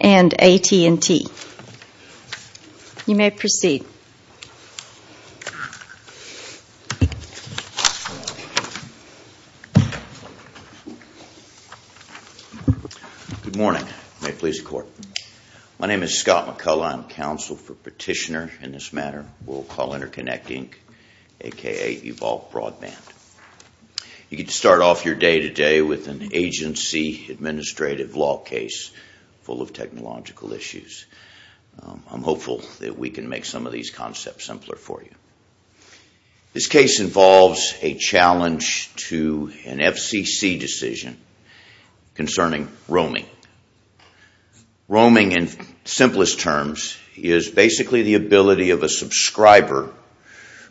and AT&T. You may proceed. Good morning. May it please the Court. My name is Scott McCullough. I am Counsel for Petitioner in this matter. We will call Interconnect, Inc. aka Evolve Broadband. You get to start off your day today with an agency administrative law case full of technological issues. I am hopeful that we can make some of these concepts simpler for you. This case involves a challenge to an FCC decision concerning roaming. Roaming in simplest terms is basically the ability of a subscriber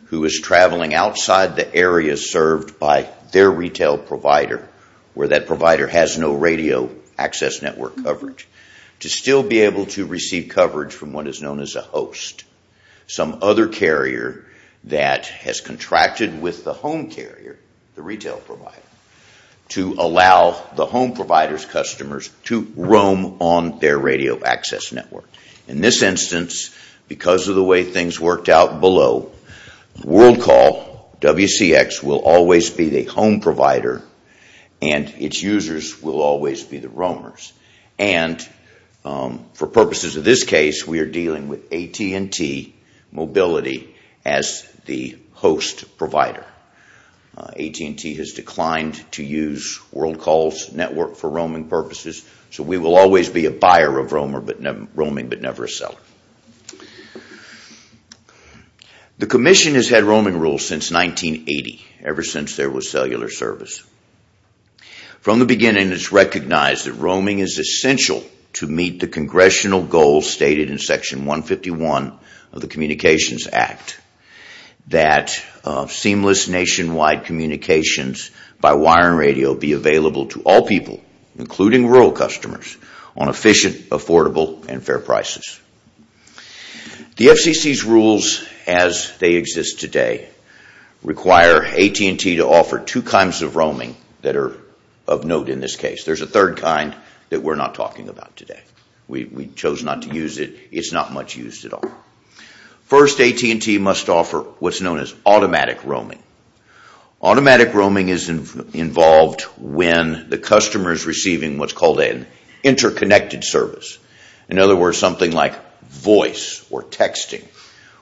who is traveling outside the area served by their retail provider where that provider has no radio access network coverage to still be able to receive coverage from what is known as a host, some other carrier that has contracted with the home carrier, the retail provider, to allow the home provider's customers to roam on their radio access network. In this instance, because of the way things worked out below, Worldcall, WCX, will always be the home provider and its users will always be the roamers. For purposes of this case, we are dealing with AT&T Mobility as the host provider. AT&T has declined to use Worldcall's network for roaming purposes, so we will always be a buyer of roaming but never a seller. The Commission has had roaming rules since 1980, ever since there was cellular service. From the beginning it is recognized that roaming is essential to meet the congressional goals stated in Section 151 of the Communications Act that seamless nationwide communications by wire and radio be available to all people, including rural customers, on efficient, affordable, and fair prices. The FCC's rules as they exist today require AT&T to offer two kinds of roaming that are of note in this case. There is a third kind that we are not talking about today. We chose not to use it. It is not much used at all. First, AT&T must offer what is known as automatic roaming. Automatic roaming is involved when the customer is receiving what is called an interconnected service. In other words, something like voice or texting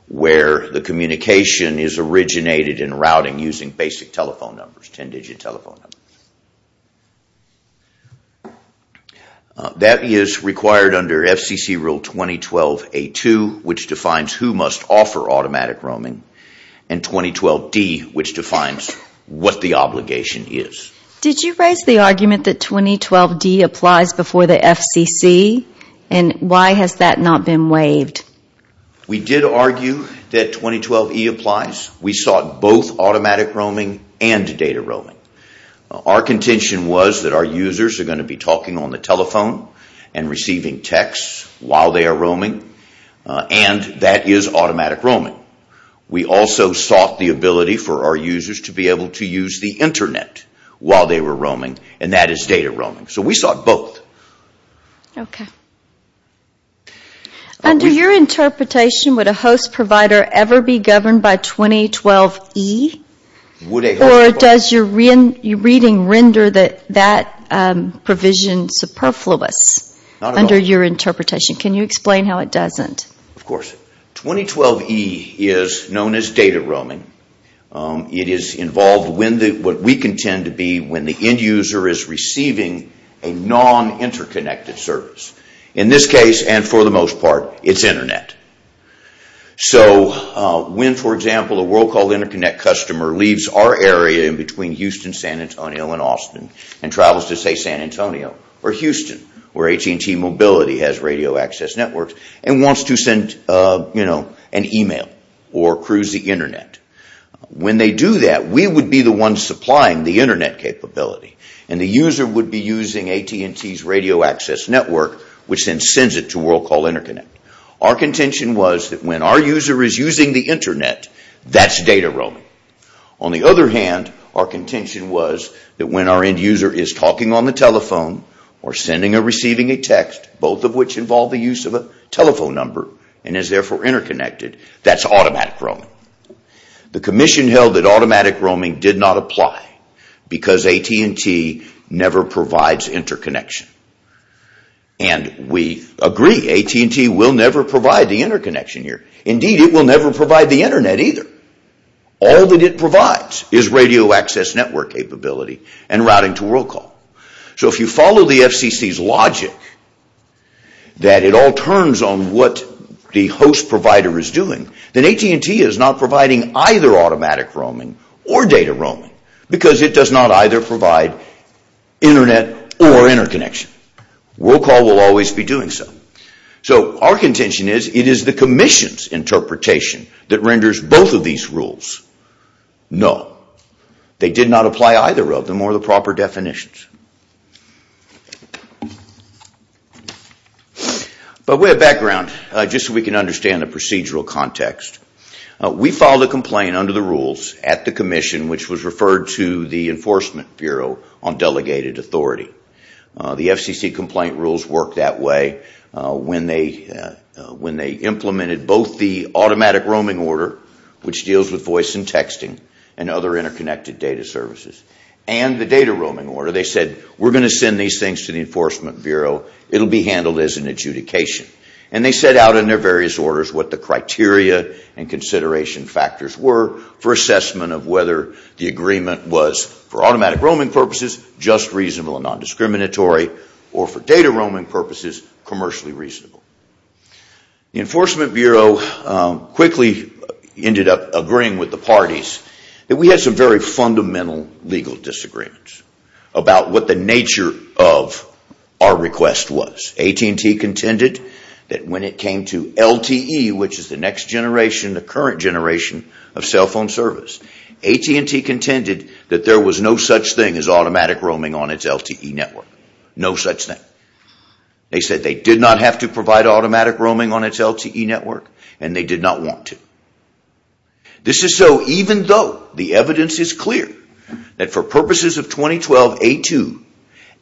where the communication is originated in routing using basic telephone numbers, 10-digit telephone numbers. That is required under FCC Rule 2012A2, which defines who must offer automatic roaming. And 2012D, which defines what the obligation is. Did you raise the argument that 2012D applies before the FCC? Why has that not been waived? We did argue that 2012E applies. We sought both automatic roaming and data roaming. Our contention was that our users are going to be talking on the telephone and receiving text while they are roaming, and that is automatic roaming. We also sought the ability for our users to be able to use the Internet while they were roaming, and that is data roaming. So we sought both. Under your interpretation, would a host provider ever be governed by 2012E? Or does your reading render that provision superfluous? Can you explain how it doesn't? Of course. 2012E is known as data roaming. It is involved in what we contend to be when the end user is receiving a non-interconnected service. In this case, and for the most part, it is Internet. So when, for example, a Worldcall Interconnect customer leaves our area in between Houston, San Antonio, and Austin, and travels to, say, San Antonio or Houston, where AT&T Mobility has radio access networks, and wants to send an email or cruise the Internet, when they do that, we would be the ones supplying the Internet capability. The user would be using AT&T's radio access network, which then sends it to Worldcall Interconnect. Our contention was that when our user is using the Internet, that is data roaming. On the other hand, our contention was that when our end user is talking on the telephone or sending or receiving a text, both of which involve the use of a telephone number and is therefore interconnected, that is automatic roaming. The Commission held that automatic roaming did not apply because AT&T never provides interconnection. And we agree, AT&T will never provide the interconnection here. Indeed, it will never provide the Internet either. All that it provides is radio access network capability and routing to Worldcall. So if you follow the FCC's logic that it all turns on what the host provider is doing, then AT&T is not providing either automatic roaming or data roaming, because it does not either provide Internet or interconnection. Worldcall will always be doing so. So our contention is that it is the Commission's interpretation that renders both of these rules null. They did not apply either of them or the proper definitions. But we have background, just so we can understand the procedural context. We filed a complaint under the rules at the Commission, which was referred to the Enforcement Bureau on delegated authority. The FCC complaint rules work that way. When they implemented both the automatic roaming order, which deals with voice and texting and other interconnected data services, and the data roaming order, they said, we are going to send these things to the Enforcement Bureau. It will be handled as an adjudication. And they set out in their various orders what the criteria and consideration factors were for assessment of whether the agreement was for automatic roaming purposes, just reasonable and non-discriminatory, or for data roaming purposes, commercially reasonable. The Enforcement Bureau quickly ended up agreeing with the parties that we had some very fundamental legal disagreements about what the nature of our request was. AT&T contended that when it came to LTE, which is the next generation, the current generation of cell phone service, AT&T contended that there was no such thing as automatic roaming on its LTE network. No such thing. They said they did not have to provide automatic roaming on its LTE network, and they did not want to. This is so even though the evidence is clear that for purposes of 2012A2,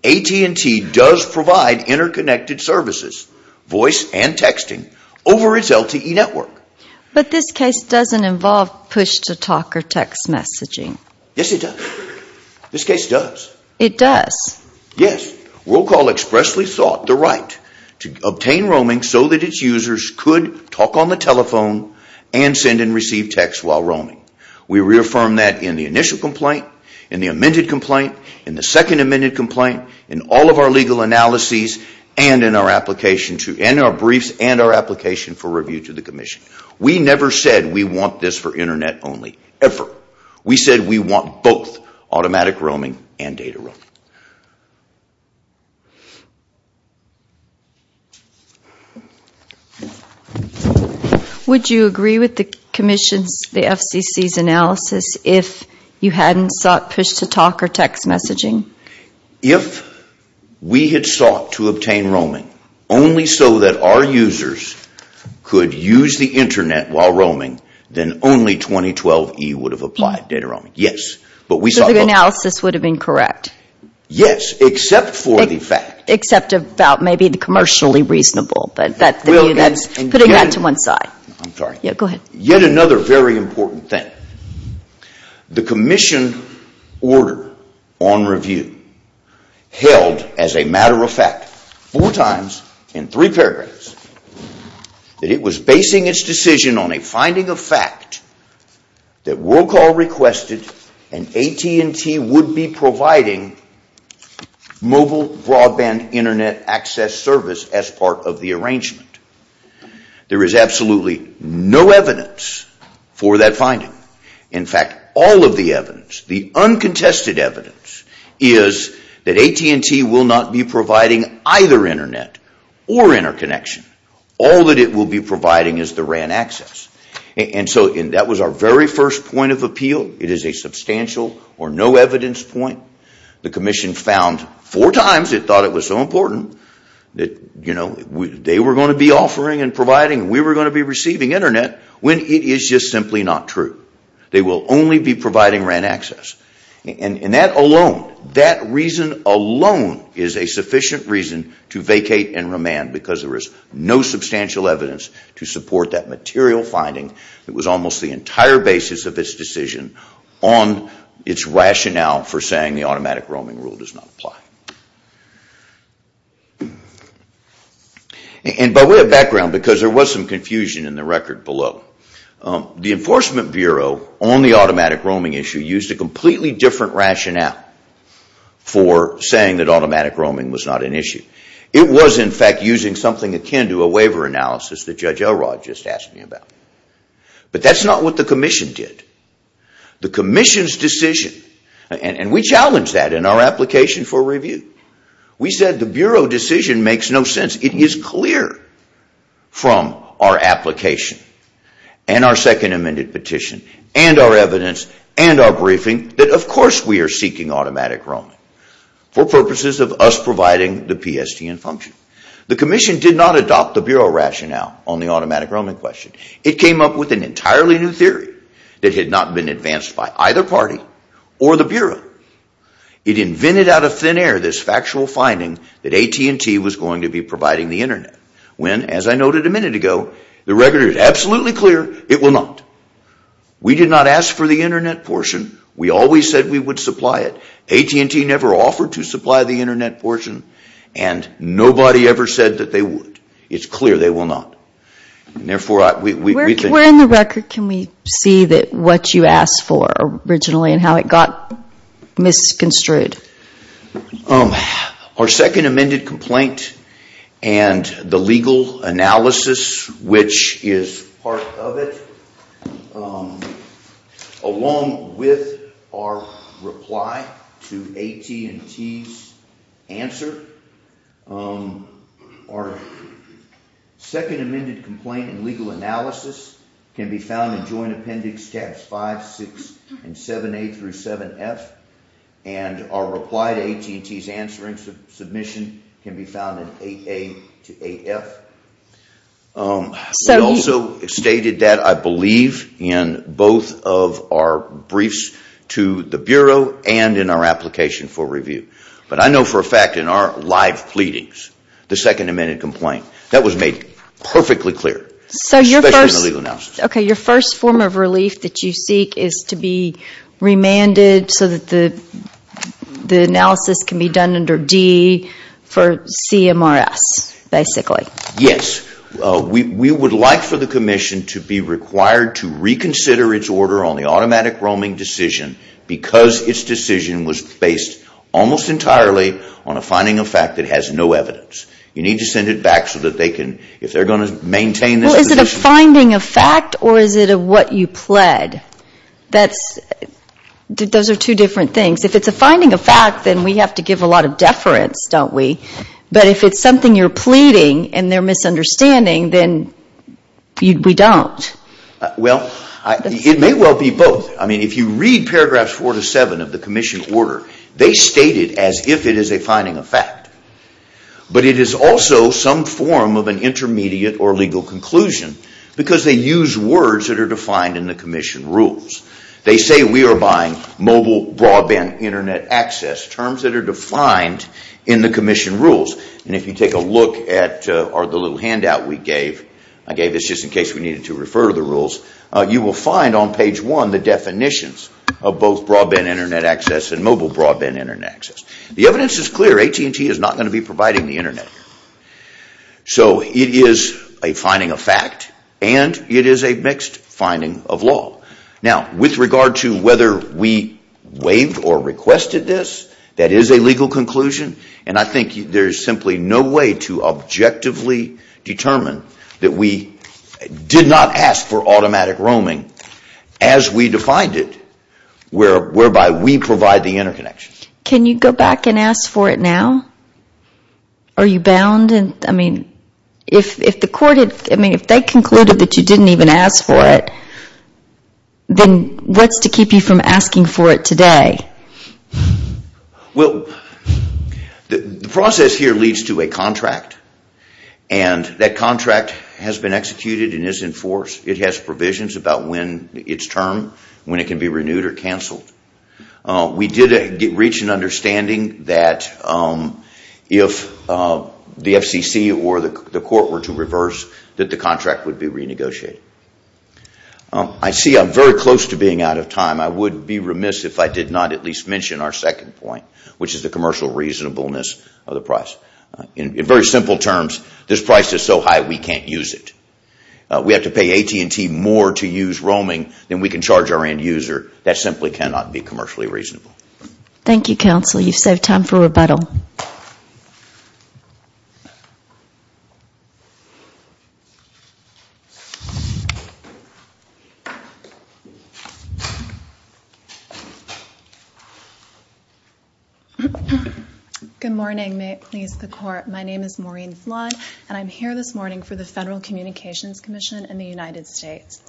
AT&T does provide interconnected services, voice and texting, over its LTE network. But this case does not involve push-to-talk or text messaging. Yes, it does. This case does. It does? Yes. Roll Call expressly sought the right to obtain roaming so that its users could talk on the telephone and send and receive text while roaming. We reaffirmed that in the initial complaint, in the amended complaint, in the second amended complaint, in all of our legal analyses, and in our briefs and our application for review to the Commission. We never said we want this for Internet only, ever. We said we want both automatic roaming and data roaming. Would you agree with the Commission's, the FCC's analysis if you hadn't sought push-to-talk or text messaging? If we had sought to obtain roaming only so that our users could use the Internet while roaming, then only 2012E would have applied data roaming. Yes, but we sought both. So the analysis would have been correct? Yes, except for the fact. Except about maybe the commercially reasonable, but that's putting that to one side. I'm sorry. Go ahead. Yet another very important thing. The Commission order on review held, as a matter of fact, four times in three paragraphs, that it was basing its decision on a finding of fact that Roll Call requested and AT&T would be providing mobile broadband Internet access service as part of the arrangement. There is absolutely no evidence for that finding. In fact, all of the evidence, the uncontested evidence, is that AT&T will not be providing either Internet or interconnection. All that it will be providing is the RAN access. That was our very first point of appeal. It is a substantial or no evidence point. The Commission found four times it thought it was so important that they were going to be offering and providing and we were going to be receiving Internet when it is just simply not true. They will only be providing RAN access. That reason alone is a sufficient reason to vacate and remand because there is no substantial evidence to support that material finding that was almost the entire basis of its decision on its rationale for saying the automatic roaming rule does not apply. By way of background, because there was some confusion in the record below, the Enforcement Bureau on the automatic roaming issue used a completely different rationale for saying that automatic roaming was not an issue. It was in fact using something akin to a waiver analysis that Judge Elrod just asked me about. But that is not what the Commission did. The Commission's decision and we challenged that in our application for review. We said the Bureau decision makes no sense. It is clear from our application and our second amended petition and our evidence and our briefing that of course we are seeking automatic roaming for purposes of us providing the PSTN function. The Commission did not adopt the Bureau rationale on the automatic roaming question. It came up with an entirely new theory that had not been advanced by either party or the Bureau. It invented out of thin air this factual finding that AT&T was going to be providing the Internet when, as I noted a minute ago, the record is absolutely clear it will not. We did not ask for the Internet portion. We always said we would supply it. AT&T never offered to supply the Internet portion and nobody ever said that they would. It's clear they will not. Therefore, we think... Where in the record can we see what you asked for originally and how it got misconstrued? Our second amended complaint and the legal analysis which is part of it, along with our reply to AT&T's answer, our second amended complaint and legal analysis can be found in Joint Appendix 5, 6, and 7A through 7F and our reply to AT&T's answering submission can be found in 8A to 8F. We also stated that, I believe, in both of our briefs to the Bureau and in our application for review. But I know for a fact in our live pleadings, the second amended complaint, that was made perfectly clear, especially in the legal analysis. Your first form of relief that you seek is to be remanded so that the analysis can be MRS, basically. Yes, we would like for the Commission to be required to reconsider its order on the automatic roaming decision because its decision was based almost entirely on a finding of fact that has no evidence. You need to send it back so that they can, if they're going to maintain this position... Well, is it a finding of fact or is it of what you pled? Those are two different things. If it's a finding of fact, then we have to give a lot of deference, don't we? But if it's something you're pleading and they're misunderstanding, then we don't. Well, it may well be both. If you read paragraphs 4 to 7 of the Commission order, they state it as if it is a finding of fact. But it is also some form of an intermediate or legal conclusion because they use words that are defined in the Commission rules. They say we are buying mobile broadband internet access, terms that are defined in the Commission rules. And if you take a look at the little handout we gave, I gave this just in case we needed to refer to the rules, you will find on page 1 the definitions of both broadband internet access and mobile broadband internet access. The evidence is clear. AT&T is not going to be providing the internet. So it is a finding of fact and it is a mixed finding of law. Now with regard to whether we waived or requested this, that is a legal conclusion. And I think there is simply no way to objectively determine that we did not ask for automatic roaming as we defined it, whereby we provide the interconnections. Can you go back and ask for it now? Are you bound? I mean, if the court, I mean, if they concluded that you didn't even ask for it, then what's to keep you from asking for it today? Well, the process here leads to a contract. And that contract has been executed and is in force. It has provisions about when it is termed, when it can be renewed or canceled. We did reach an understanding that if the FCC or the court were to reverse that the contract would be renegotiated. I see I am very close to being out of time. I would be remiss if I did not at least mention our second point, which is the commercial reasonableness of the price. In very simple terms, this price is so high we can't use it. We have to pay AT&T more to use roaming than we can charge our end user. That simply cannot be commercially reasonable. You have saved time for rebuttal. Good morning. May it please the court. My name is Maureen Flood and I am here this morning for the Federal Communications Commission in the United States.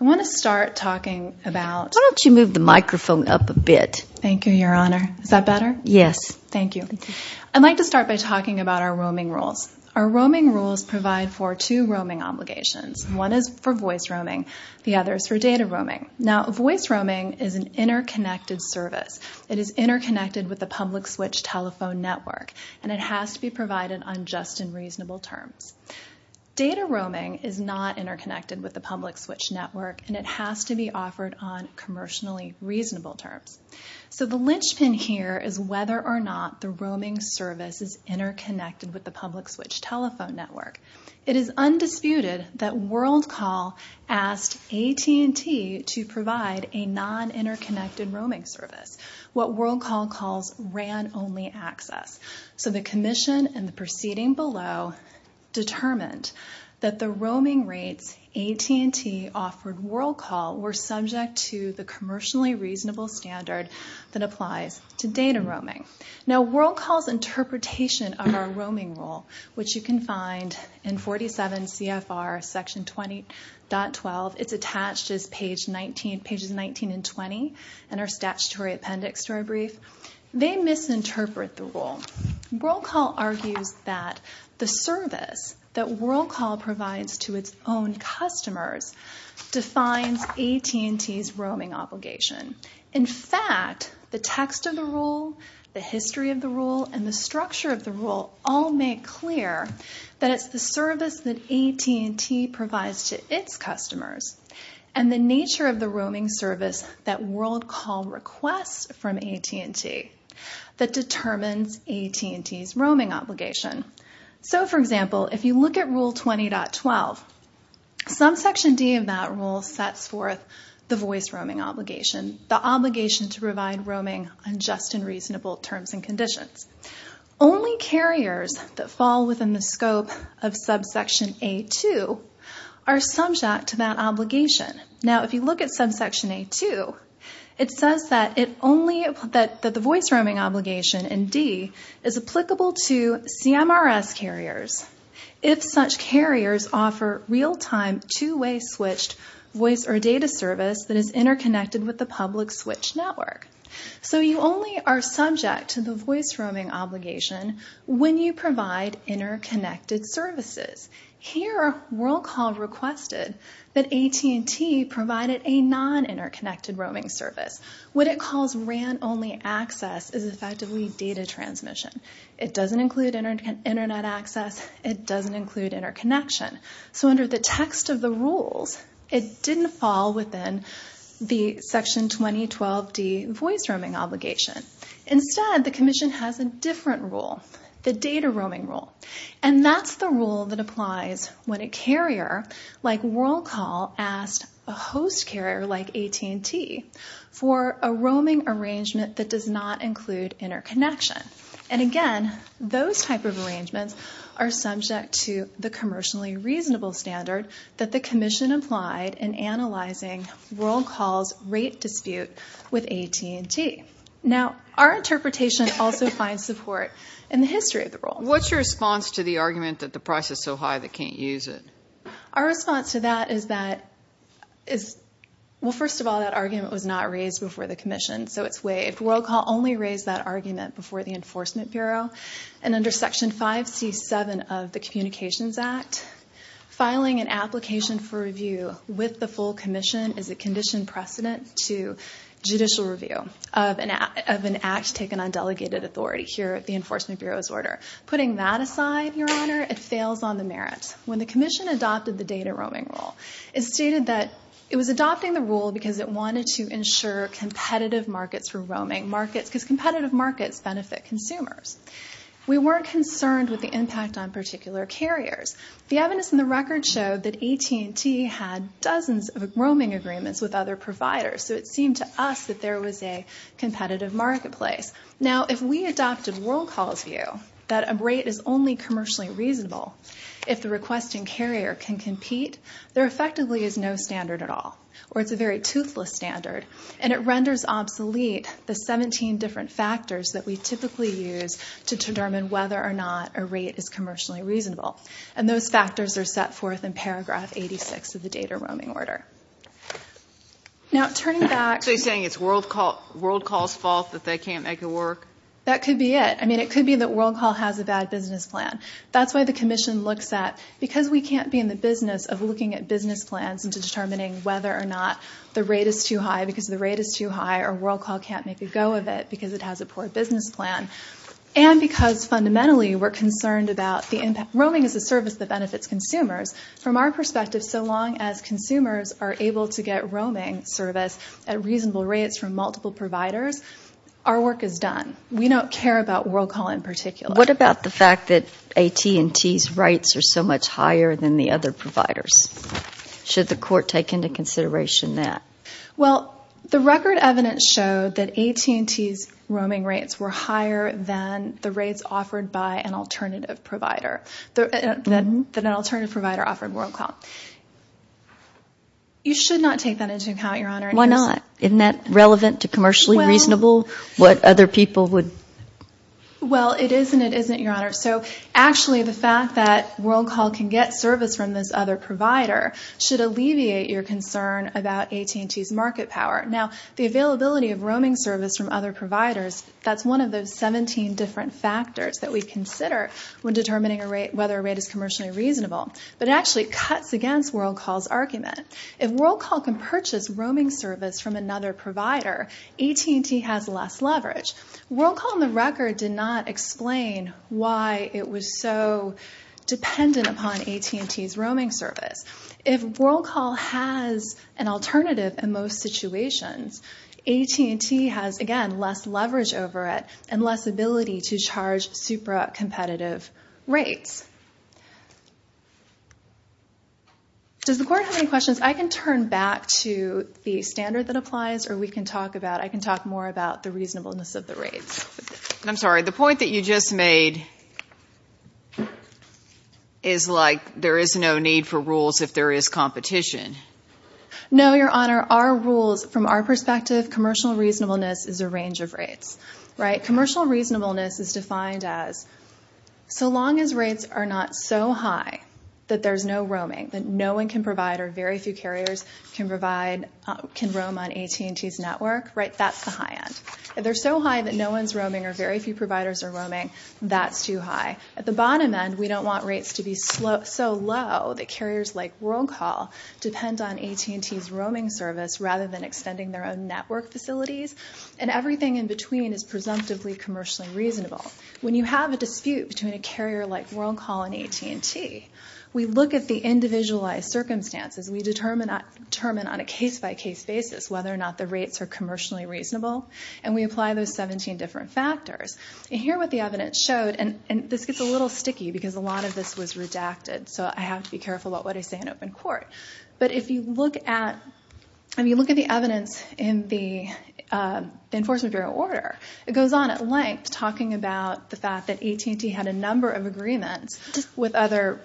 I want to start talking about… Why don't you move the microphone up a bit? Thank you, Your Honor. Thank you. Thank you. Thank you. Thank you. Thank you. Thank you. Thank you. Thank you. Thank you. Thank you. Thank you. Thank you. Thank you. Thank you. I'd like to start by talking about our roaming rules. Our roaming rules provide for two roaming obligations. One is for voice roaming. The other is for data roaming. Now voice roaming is an interconnected service. It is interconnected with the public switch telephone network and it has to be provided on just and reasonable terms. Data roaming is not interconnected with the public switch network and it has to be offered on commercially reasonable terms. So the linchpin here is whether or not the roaming service is interconnected with the public switch telephone network. It is undisputed that Worldcall asked AT&T to provide a non-interconnected roaming service, what Worldcall calls RAN-only access. So the commission and the proceeding below determined that the roaming rates AT&T offered to Worldcall were subject to the commercially reasonable standard that applies to data roaming. Now Worldcall's interpretation of our roaming rule, which you can find in 47 CFR section 20.12, it's attached as pages 19 and 20 in our statutory appendix story brief, they misinterpret the rule. Worldcall argues that the service that Worldcall provides to its own customers defines AT&T's roaming obligation. In fact, the text of the rule, the history of the rule, and the structure of the rule all make clear that it's the service that AT&T provides to its customers and the nature of the roaming service that Worldcall requests from AT&T that determines AT&T's roaming obligation. So for example, if you look at rule 20.12, subsection D of that rule sets forth the voice roaming obligation, the obligation to provide roaming on just and reasonable terms and conditions. Only carriers that fall within the scope of subsection A2 are subject to that obligation. Now if you look at subsection A2, it says that the voice roaming obligation in D is applicable to CMRS carriers if such carriers offer real-time two-way switched voice or data service that is interconnected with the public switch network. So you only are subject to the voice roaming obligation when you provide interconnected services. Here, Worldcall requested that AT&T provide a non-interconnected roaming service. What it calls RAN-only access is effectively data transmission. It doesn't include internet access. It doesn't include interconnection. So under the text of the rules, it didn't fall within the section 20.12D voice roaming obligation. Instead, the commission has a different rule, the data roaming rule. And that's the rule that applies when a carrier like Worldcall asked a host carrier like AT&T for a roaming arrangement that does not include interconnection. And again, those type of arrangements are subject to the commercially reasonable standard that the commission applied in analyzing Worldcall's rate dispute with AT&T. Now our interpretation also finds support in the history of the rule. What's your response to the argument that the price is so high they can't use it? Our response to that is that, well, first of all, that argument was not raised before the commission. So it's waived. Worldcall only raised that argument before the Enforcement Bureau. And under Section 5C.7 of the Communications Act, filing an application for review with the full commission is a conditioned precedent to judicial review of an act taken on delegated authority here at the Enforcement Bureau's order. Putting that aside, Your Honor, it fails on the merits. When the commission adopted the data roaming rule, it stated that it was adopting the rule because it wanted to ensure competitive markets for roaming markets, because competitive markets benefit consumers. We weren't concerned with the impact on particular carriers. The evidence in the record showed that AT&T had dozens of roaming agreements with other providers. So it seemed to us that there was a competitive marketplace. Now, if we adopted Worldcall's view that a rate is only commercially reasonable if the requesting carrier can compete, there effectively is no standard at all, or it's a very toothless standard. And it renders obsolete the 17 different factors that we typically use to determine whether or not a rate is commercially reasonable. And those factors are set forth in paragraph 86 of the data roaming order. Now, turning back... So you're saying it's Worldcall's fault that they can't make it work? That could be it. I mean, it could be that Worldcall has a bad business plan. That's why the commission looks at, because we can't be in the business of looking at business plans and determining whether or not the rate is too high because the rate is too high, or Worldcall can't make a go of it because it has a poor business plan, and because fundamentally we're concerned about the impact. Roaming is a service that benefits consumers. From our perspective, so long as consumers are able to get roaming service at reasonable rates from multiple providers, our work is done. We don't care about Worldcall in particular. What about the fact that AT&T's rates are so much higher than the other providers? Should the court take into consideration that? Well, the record evidence showed that AT&T's roaming rates were higher than the rates offered by an alternative provider, than an alternative provider offered Worldcall. You should not take that into account, Your Honor. Why not? Isn't that relevant to commercially reasonable? What other people would? Well, it is and it isn't, Your Honor. So actually the fact that Worldcall can get service from this other provider should alleviate your concern about AT&T's market power. Now the availability of roaming service from other providers, that's one of those 17 different factors that we consider when determining whether a rate is commercially reasonable. But it actually cuts against Worldcall's argument. If Worldcall can purchase roaming service from another provider, AT&T has less leverage. Worldcall, on the record, did not explain why it was so dependent upon AT&T's roaming service. If Worldcall has an alternative in most situations, AT&T has, again, less leverage over it and less ability to charge super competitive rates. Does the Court have any questions? I can turn back to the standard that applies or we can talk about, I can talk more about the reasonableness of the rates. I'm sorry. The point that you just made is like there is no need for rules if there is competition. No, Your Honor. Our rules, from our perspective, commercial reasonableness is a range of rates. Commercial reasonableness is defined as so long as rates are not so high that there's no roaming, that no one can provide or very few carriers can provide, can roam on AT&T's network, that's the high end. If they're so high that no one's roaming or very few providers are roaming, that's too high. At the bottom end, we don't want rates to be so low that carriers like Worldcall depend on AT&T's roaming service rather than extending their own network facilities. And everything in between is presumptively commercially reasonable. When you have a dispute between a carrier like Worldcall and AT&T, we look at the individualized circumstances, we determine on a case-by-case basis whether or not the rates are commercially reasonable, and we apply those 17 different factors. And here what the evidence showed, and this gets a little sticky because a lot of this was redacted, so I have to be careful about what I say in open court. But if you look at the evidence in the Enforcement Bureau order, it goes on at length talking about the fact that AT&T had a number of agreements with other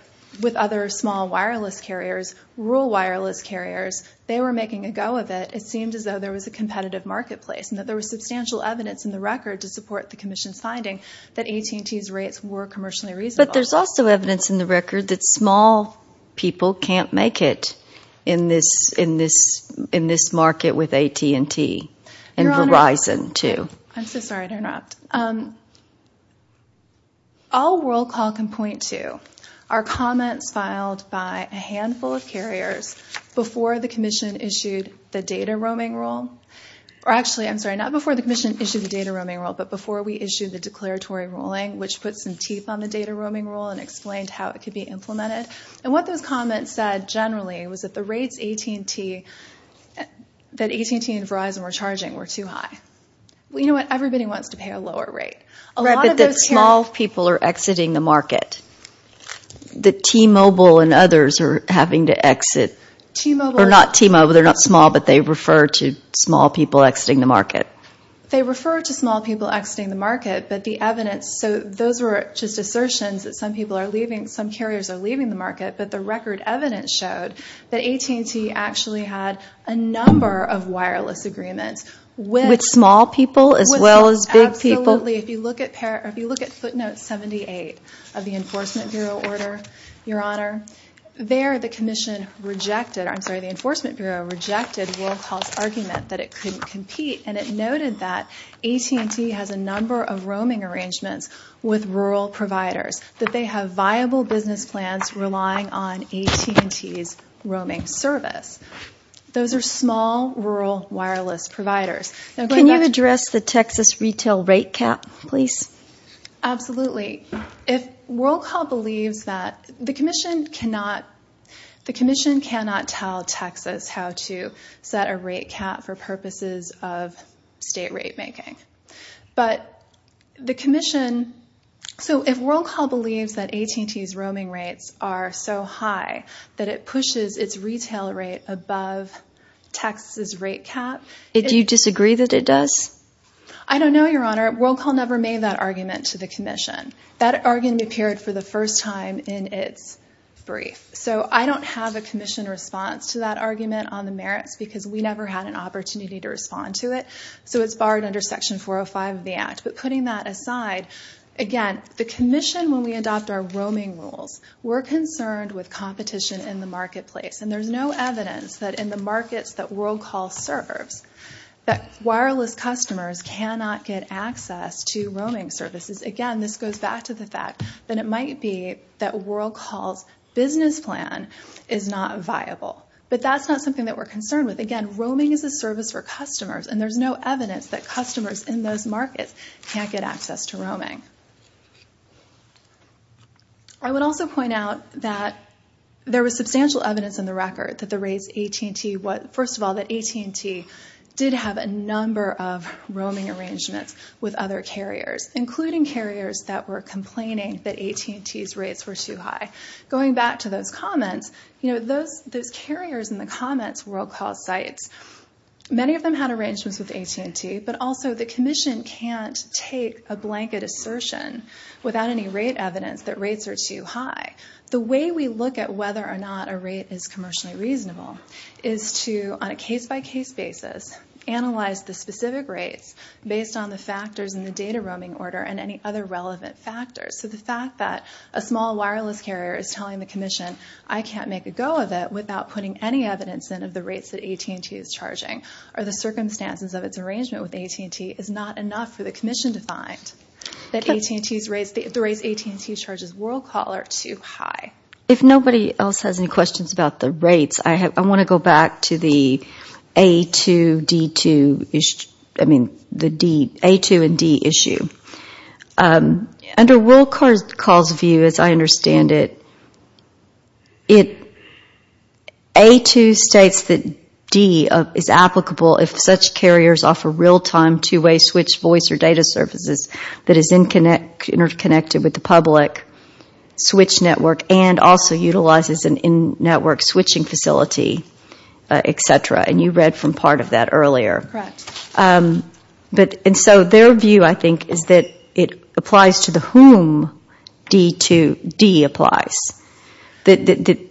small wireless carriers, rural wireless carriers. They were making a go of it. It seemed as though there was a competitive marketplace and that there was substantial evidence in the record to support the Commission's finding that AT&T's rates were commercially reasonable. But there's also evidence in the record that small people can't make it in this market with AT&T and Verizon, too. I'm so sorry to interrupt. All Worldcall can point to are comments filed by a handful of carriers before the Commission issued the data roaming rule. Actually, I'm sorry, not before the Commission issued the data roaming rule, but before we how it could be implemented. And what those comments said generally was that the rates AT&T and Verizon were charging were too high. Well, you know what? Everybody wants to pay a lower rate. Right, but the small people are exiting the market. The T-Mobile and others are having to exit. T-Mobile. Or not T-Mobile. They're not small, but they refer to small people exiting the market. They refer to small people exiting the market, but the evidence, so those were just assertions that some people are leaving, some carriers are leaving the market, but the record evidence showed that AT&T actually had a number of wireless agreements with With small people as well as big people. Absolutely. If you look at footnote 78 of the Enforcement Bureau order, Your Honor, there the Commission rejected, I'm sorry, the Enforcement Bureau rejected Worldcall's argument that it couldn't with rural providers, that they have viable business plans relying on AT&T's roaming service. Those are small rural wireless providers. Can you address the Texas retail rate cap, please? Absolutely. If Worldcall believes that, the Commission cannot tell Texas how to set a rate cap for purposes of state rate making. But the Commission, so if Worldcall believes that AT&T's roaming rates are so high that it pushes its retail rate above Texas' rate cap. Do you disagree that it does? I don't know, Your Honor. Worldcall never made that argument to the Commission. That argument appeared for the first time in its brief. So I don't have a Commission response to that argument on the merits because we never had an opportunity to respond to it. So it's barred under Section 405 of the Act. But putting that aside, again, the Commission, when we adopt our roaming rules, we're concerned with competition in the marketplace. And there's no evidence that in the markets that Worldcall serves, that wireless customers cannot get access to roaming services. Again, this goes back to the fact that it might be that Worldcall's business plan is not viable. But that's not something that we're concerned with. Again, roaming is a service for customers, and there's no evidence that customers in those markets can't get access to roaming. I would also point out that there was substantial evidence in the record that the rates AT&T – first of all, that AT&T did have a number of roaming arrangements with other carriers, including carriers that were complaining that AT&T's rates were too high. Going back to those comments, those carriers in the comments, Worldcall's sites, many of them had arrangements with AT&T, but also the Commission can't take a blanket assertion without any rate evidence that rates are too high. The way we look at whether or not a rate is commercially reasonable is to, on a case-by-case basis, analyze the specific rates based on the factors in the data roaming order and any other relevant factors. So the fact that a small wireless carrier is telling the Commission, I can't make a go of it without putting any evidence in of the rates that AT&T is charging, or the circumstances of its arrangement with AT&T, is not enough for the Commission to find that the rates AT&T charges Worldcall are too high. If nobody else has any questions about the rates, I want to go back to the A2 and D issue. Under Worldcall's view, as I understand it, A2 states that D is applicable if such carriers offer real-time two-way switch voice or data services that is interconnected with the public switch network and also utilizes a network switching facility, etc. And you read from part of that earlier. And so their view, I think, is that it applies to the whom D applies. The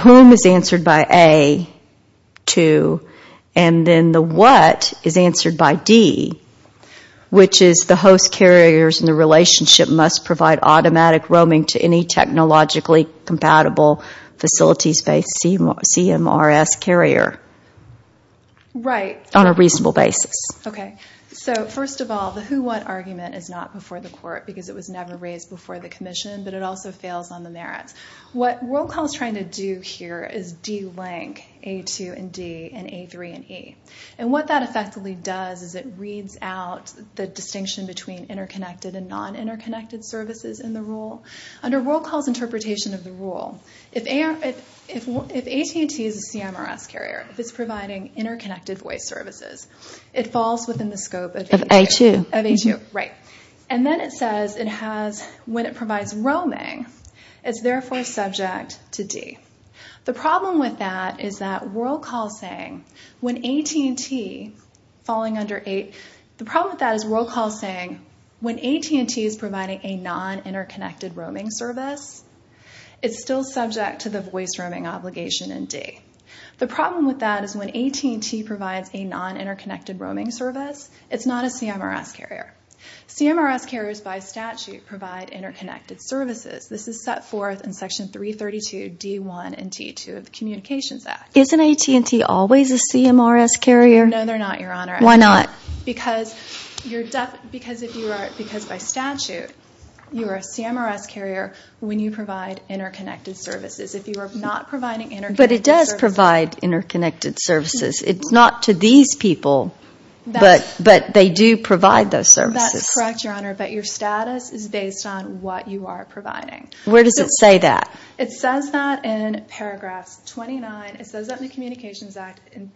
whom is answered by A2, and then the what is answered by D, which is the host carriers in the relationship must provide automatic roaming to any technologically compatible facilities-based CMRS carrier on a reasonable basis. Right. Okay. So first of all, the who what argument is not before the Court because it was never raised before the Commission, but it also fails on the merits. What Worldcall is trying to do here is delink A2 and D and A3 and E. And what that effectively does is it reads out the distinction between interconnected and non-interconnected services in the rule. Under Worldcall's interpretation of the rule, if AT&T is a CMRS carrier, if it's providing interconnected voice services, it falls within the scope of A2. Of A2. Of A2. Right. And then it says it has, when it provides roaming, it's therefore subject to D. The problem with that is that Worldcall saying when AT&T falling under A, the problem with that is Worldcall saying when AT&T is providing a non-interconnected roaming service, it's still subject to the voice roaming obligation in D. The problem with that is when AT&T provides a non-interconnected roaming service, it's not a CMRS carrier. CMRS carriers by statute provide interconnected services. This is set forth in Section 332 D1 and D2 of the Communications Act. Isn't AT&T always a CMRS carrier? No, they're not, Your Honor. Why not? Because by statute, you are a CMRS carrier when you provide interconnected services. If you are not providing interconnected services... But it does provide interconnected services. It's not to these people, but they do provide those services. That's correct, Your Honor, but your status is based on what you are providing. Where does it say that? It says that in Paragraph 29. It says that in the Communications Act in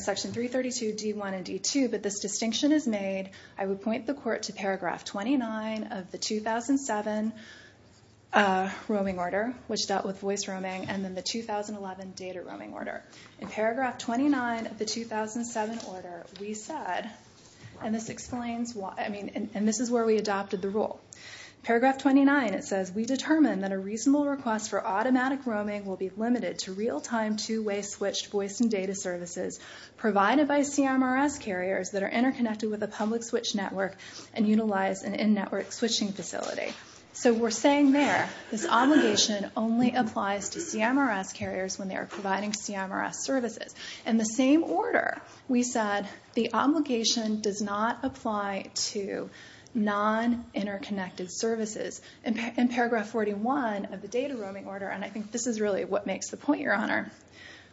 Section 332 D1 and D2, but this distinction is made. I would point the Court to Paragraph 29 of the 2007 roaming order, which dealt with voice roaming, and then the 2011 data roaming order. In Paragraph 29 of the 2007 order, we said, and this is where we adopted the rule. Paragraph 29, it says, we determined that a reasonable request for automatic roaming will be limited to real-time two-way switched voice and data services provided by CMRS carriers that are interconnected with a public switch network and utilize an in-network switching facility. So we're saying there, this obligation only applies to CMRS carriers when they are providing CMRS services. In the same order, we said the obligation does not apply to non-interconnected services. In Paragraph 41 of the data roaming order, and I think this is really what makes the point, Your Honor,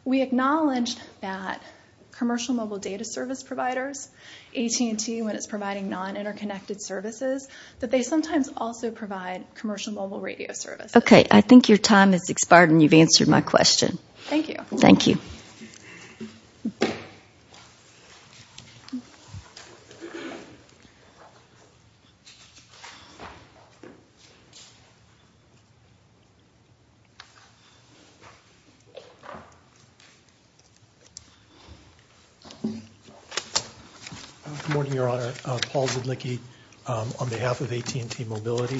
we acknowledge that commercial mobile data service providers, AT&T when it's providing non-interconnected services, that they sometimes also provide commercial mobile radio services. Okay, I think your time has expired and you've answered my question. Thank you. Thank you. Good morning, Your Honor. Paul Zudlicki on behalf of AT&T Mobility.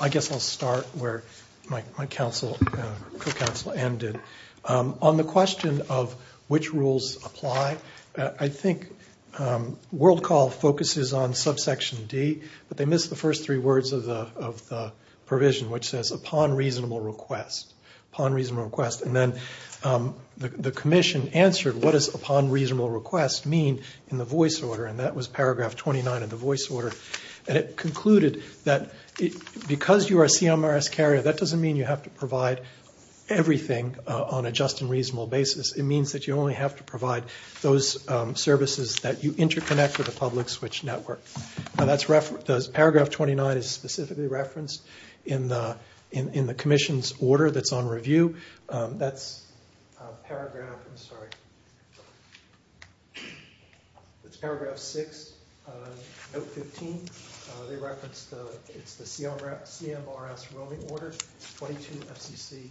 I guess I'll start where my co-counsel Anne did. On the question of which rules apply, I think Worldcall focuses on subsection D, but they missed the first three words of the provision, which says upon reasonable request. And then the commission answered what does upon reasonable request mean in the voice order, and that was Paragraph 29 of the voice order. And it concluded that because you are a CMRS carrier, that doesn't mean you have to provide everything on a just and reasonable basis. It means that you only have to provide those services that you interconnect with a public switch network. Paragraph 29 is specifically referenced in the commission's order that's on review. That's Paragraph 6, Note 15. They referenced it's the CMRS rolling order, 22 FCC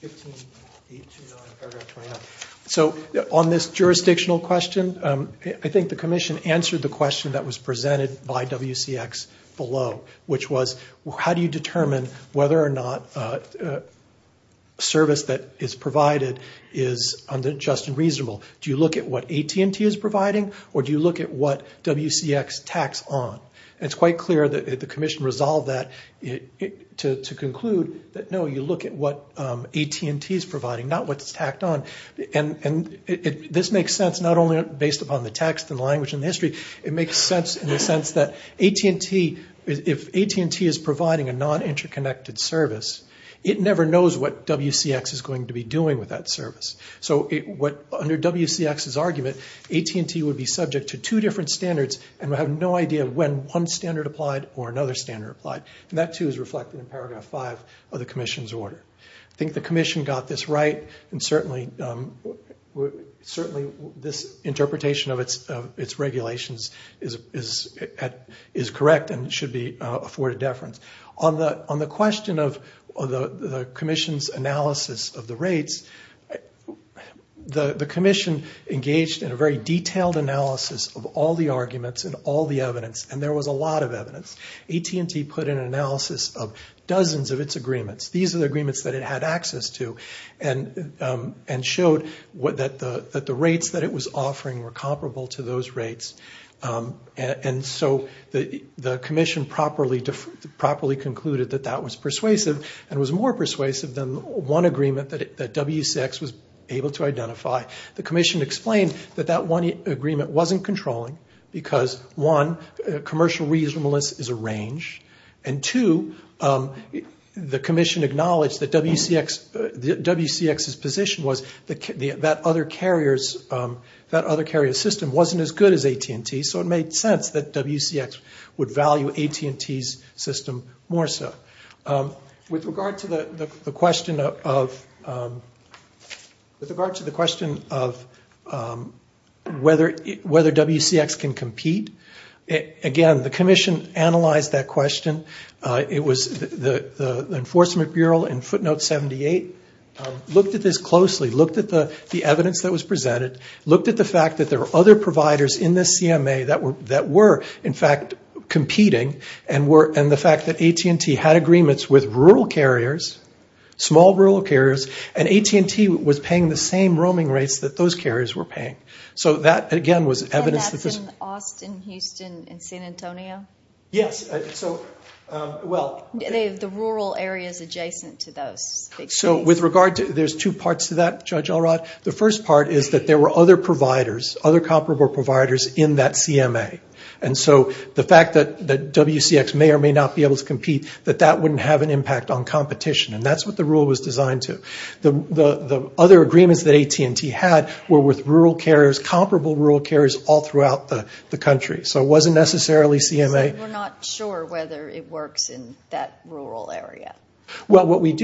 15829, Paragraph 29. So on this jurisdictional question, I think the commission answered the question that was presented by WCX below, which was how do you determine whether or not a service that is provided is just and reasonable? Do you look at what AT&T is providing, or do you look at what WCX tacks on? And it's quite clear that the commission resolved that to conclude that no, you look at what AT&T is providing, not what's tacked on. And this makes sense not only based upon the text and language and history, it makes sense in the sense that if AT&T is providing a non-interconnected service, it never knows what WCX is going to be doing with that service. So under WCX's argument, AT&T would be subject to two different standards and would have no idea when one standard applied or another standard applied. And that too is reflected in Paragraph 5 of the commission's order. I think the commission got this right, and certainly this interpretation of its regulations is correct and should be afforded deference. On the question of the commission's analysis of the rates, the commission engaged in a very detailed analysis of all the arguments and all the evidence, and there was a lot of evidence. AT&T put in an analysis of dozens of its agreements. These are the agreements that it had access to and showed that the rates that it was offering were comparable to those rates. And so the commission properly concluded that that was persuasive and was more persuasive than one agreement that WCX was able to identify. The commission explained that that one agreement wasn't controlling And two, the commission acknowledged that WCX's position was that that other carrier system wasn't as good as AT&T's, so it made sense that WCX would value AT&T's system more so. With regard to the question of whether WCX can compete, again, the commission analyzed that question. The Enforcement Bureau in footnote 78 looked at this closely, looked at the evidence that was presented, looked at the fact that there were other providers in the CMA that were, in fact, competing, and the fact that AT&T had agreements with rural carriers, small rural carriers, and AT&T was paying the same roaming rates that those carriers were paying. And that's in Austin, Houston, and San Antonio? Yes. The rural areas adjacent to those. There's two parts to that, Judge Allrott. The first part is that there were other comparable providers in that CMA. And so the fact that WCX may or may not be able to compete, that that wouldn't have an impact on competition. And that's what the rule was designed to. The other agreements that AT&T had were with rural carriers, comparable rural carriers all throughout the country. So it wasn't necessarily CMA. So you're not sure whether it works in that rural area? Well, we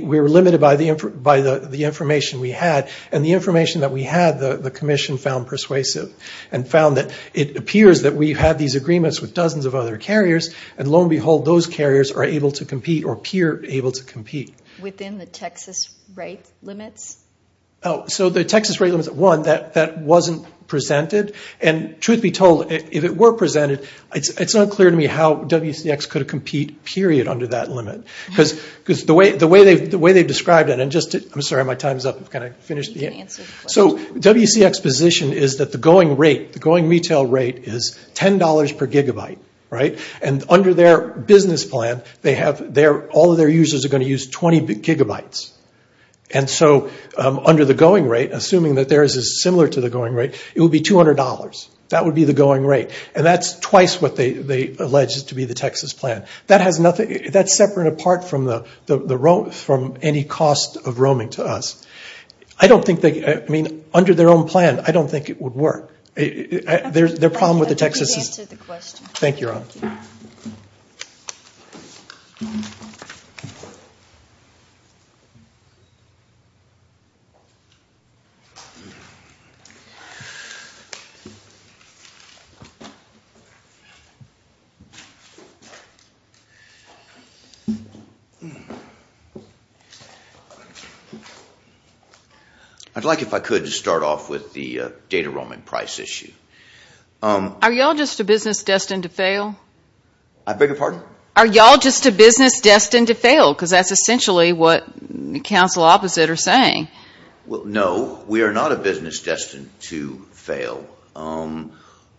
were limited by the information we had, and the information that we had the commission found persuasive and found that it appears that we have these agreements with dozens of other carriers, and lo and behold, those carriers are able to compete or appear able to compete. Within the Texas rate limits? So the Texas rate limits, one, that wasn't presented. And truth be told, if it were presented, it's not clear to me how WCX could compete, period, under that limit. Because the way they've described it, and just to – I'm sorry, my time's up. Can I finish? You can answer the question. So WCX's position is that the going retail rate is $10 per gigabyte, right? And under their business plan, they have – all of their users are going to use 20 gigabytes. And so under the going rate, assuming that theirs is similar to the going rate, it would be $200. That would be the going rate. And that's twice what they allege is to be the Texas plan. That has nothing – that's separate and apart from any cost of roaming to us. I don't think they – I mean, under their own plan, I don't think it would work. Their problem with the Texas is – Let me answer the question. Thank you, Ron. I'd like, if I could, to start off with the data roaming price issue. Are you all just a business destined to fail? I beg your pardon? Are you all just a business destined to fail? Because that's essentially what counsel opposite are saying. Well, no, we are not a business destined to fail.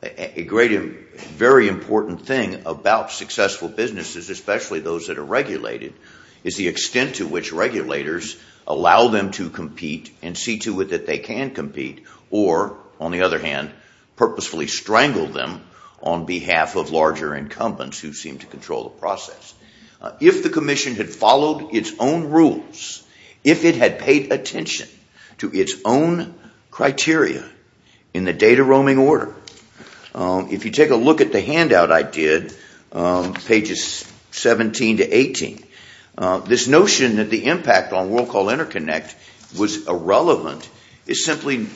A great and very important thing about successful businesses, especially those that are regulated, is the extent to which regulators allow them to compete and see to it that they can compete. Or, on the other hand, purposefully strangle them on behalf of larger incumbents who seem to control the process. If the commission had followed its own rules, if it had paid attention to its own criteria in the data roaming order, if you take a look at the handout I did, pages 17 to 18, this notion that the impact on World Call Interconnect was irrelevant is simply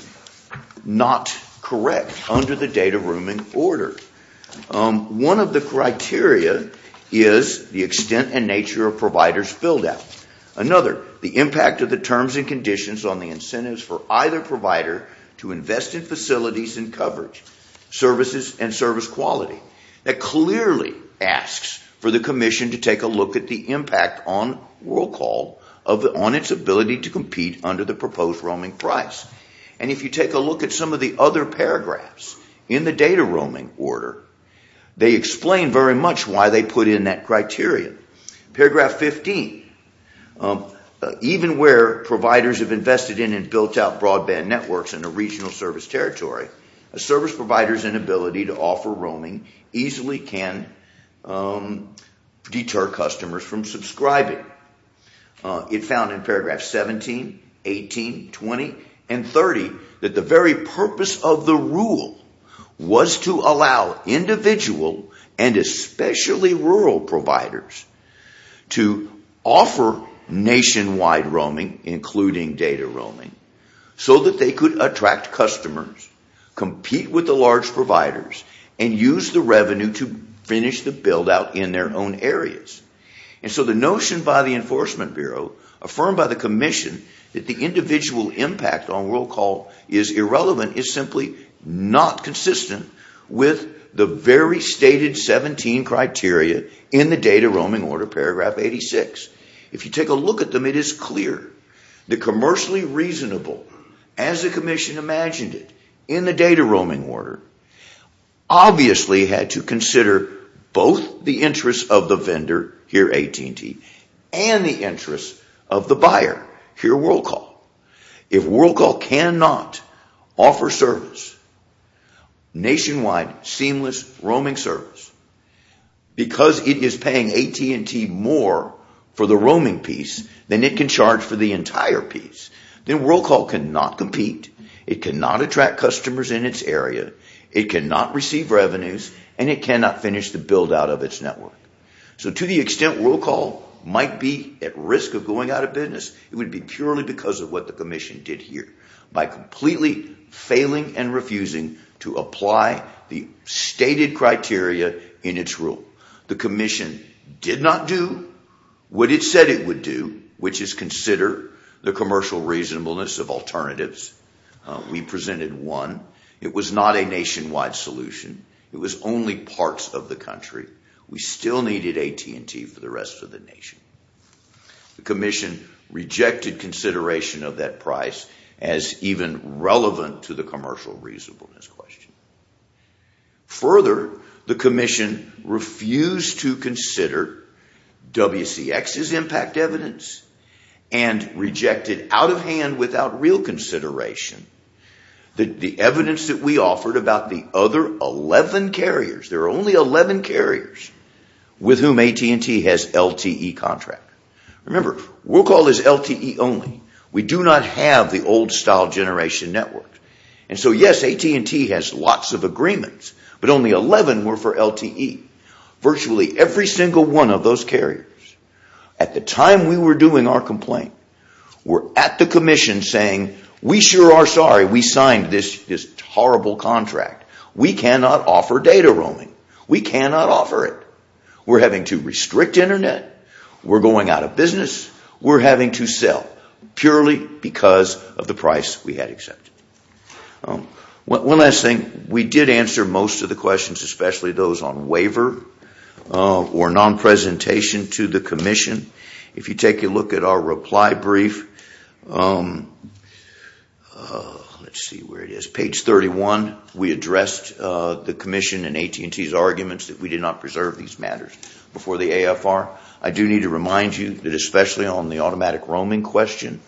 not correct under the data roaming order. One of the criteria is the extent and nature of provider's build-out. Another, the impact of the terms and conditions on the incentives for either provider to invest in facilities and coverage, services and service quality. That clearly asks for the commission to take a look at the impact on World Call on its ability to compete under the proposed roaming price. And if you take a look at some of the other paragraphs in the data roaming order, they explain very much why they put in that criteria. Paragraph 15, even where providers have invested in and built out broadband networks in a regional service territory, a service provider's inability to offer roaming easily can deter customers from subscribing. It found in paragraphs 17, 18, 20, and 30 that the very purpose of the rule was to allow individual and especially rural providers to offer nationwide roaming, including data roaming, so that they could attract customers, compete with the large providers, and use the revenue to finish the build-out in their own areas. And so the notion by the Enforcement Bureau, affirmed by the commission, that the individual impact on World Call is irrelevant is simply not consistent with the very stated 17 criteria in the data roaming order, paragraph 86. If you take a look at them, it is clear that commercially reasonable, as the commission imagined it in the data roaming order, obviously had to consider both the interests of the vendor, here AT&T, and the interests of the buyer, here World Call. If World Call cannot offer service, nationwide seamless roaming service, because it is paying AT&T more for the roaming piece than it can charge for the entire piece, then World Call cannot compete, it cannot attract customers in its area, it cannot receive revenues, and it cannot finish the build-out of its network. So to the extent World Call might be at risk of going out of business, it would be purely because of what the commission did here, by completely failing and refusing to apply the stated criteria in its rule. The commission did not do what it said it would do, which is consider the commercial reasonableness of alternatives. We presented one. It was not a nationwide solution. It was only parts of the country. We still needed AT&T for the rest of the nation. The commission rejected consideration of that price as even relevant to the commercial reasonableness question. Further, the commission refused to consider WCX's impact evidence, and rejected out of hand without real consideration, the evidence that we offered about the other 11 carriers, there are only 11 carriers with whom AT&T has LTE contract. Remember, World Call is LTE only. We do not have the old-style generation network. So yes, AT&T has lots of agreements, but only 11 were for LTE. Virtually every single one of those carriers, at the time we were doing our complaint, were at the commission saying, we sure are sorry we signed this horrible contract. We cannot offer data roaming. We cannot offer it. We are having to restrict internet. We are going out of business. We are having to sell purely because of the price we had accepted. One last thing, we did answer most of the questions, especially those on waiver or non-presentation to the commission. If you take a look at our reply brief, page 31, we addressed the commission and AT&T's arguments that we did not preserve these matters before the AFR. I do need to remind you that especially on the automatic roaming question,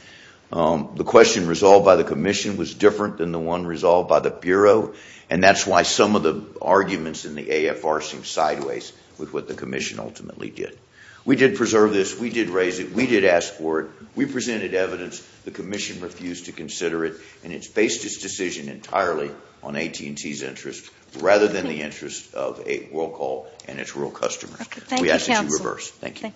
the question resolved by the commission was different than the one resolved by the Bureau, and that's why some of the arguments in the AFR seem sideways with what the commission ultimately did. We did preserve this. We did raise it. We did ask for it. We presented evidence. The commission refused to consider it, and it's based its decision entirely on AT&T's interest rather than the interest of Worldcall and its real customers. We ask that you reverse. Thank you.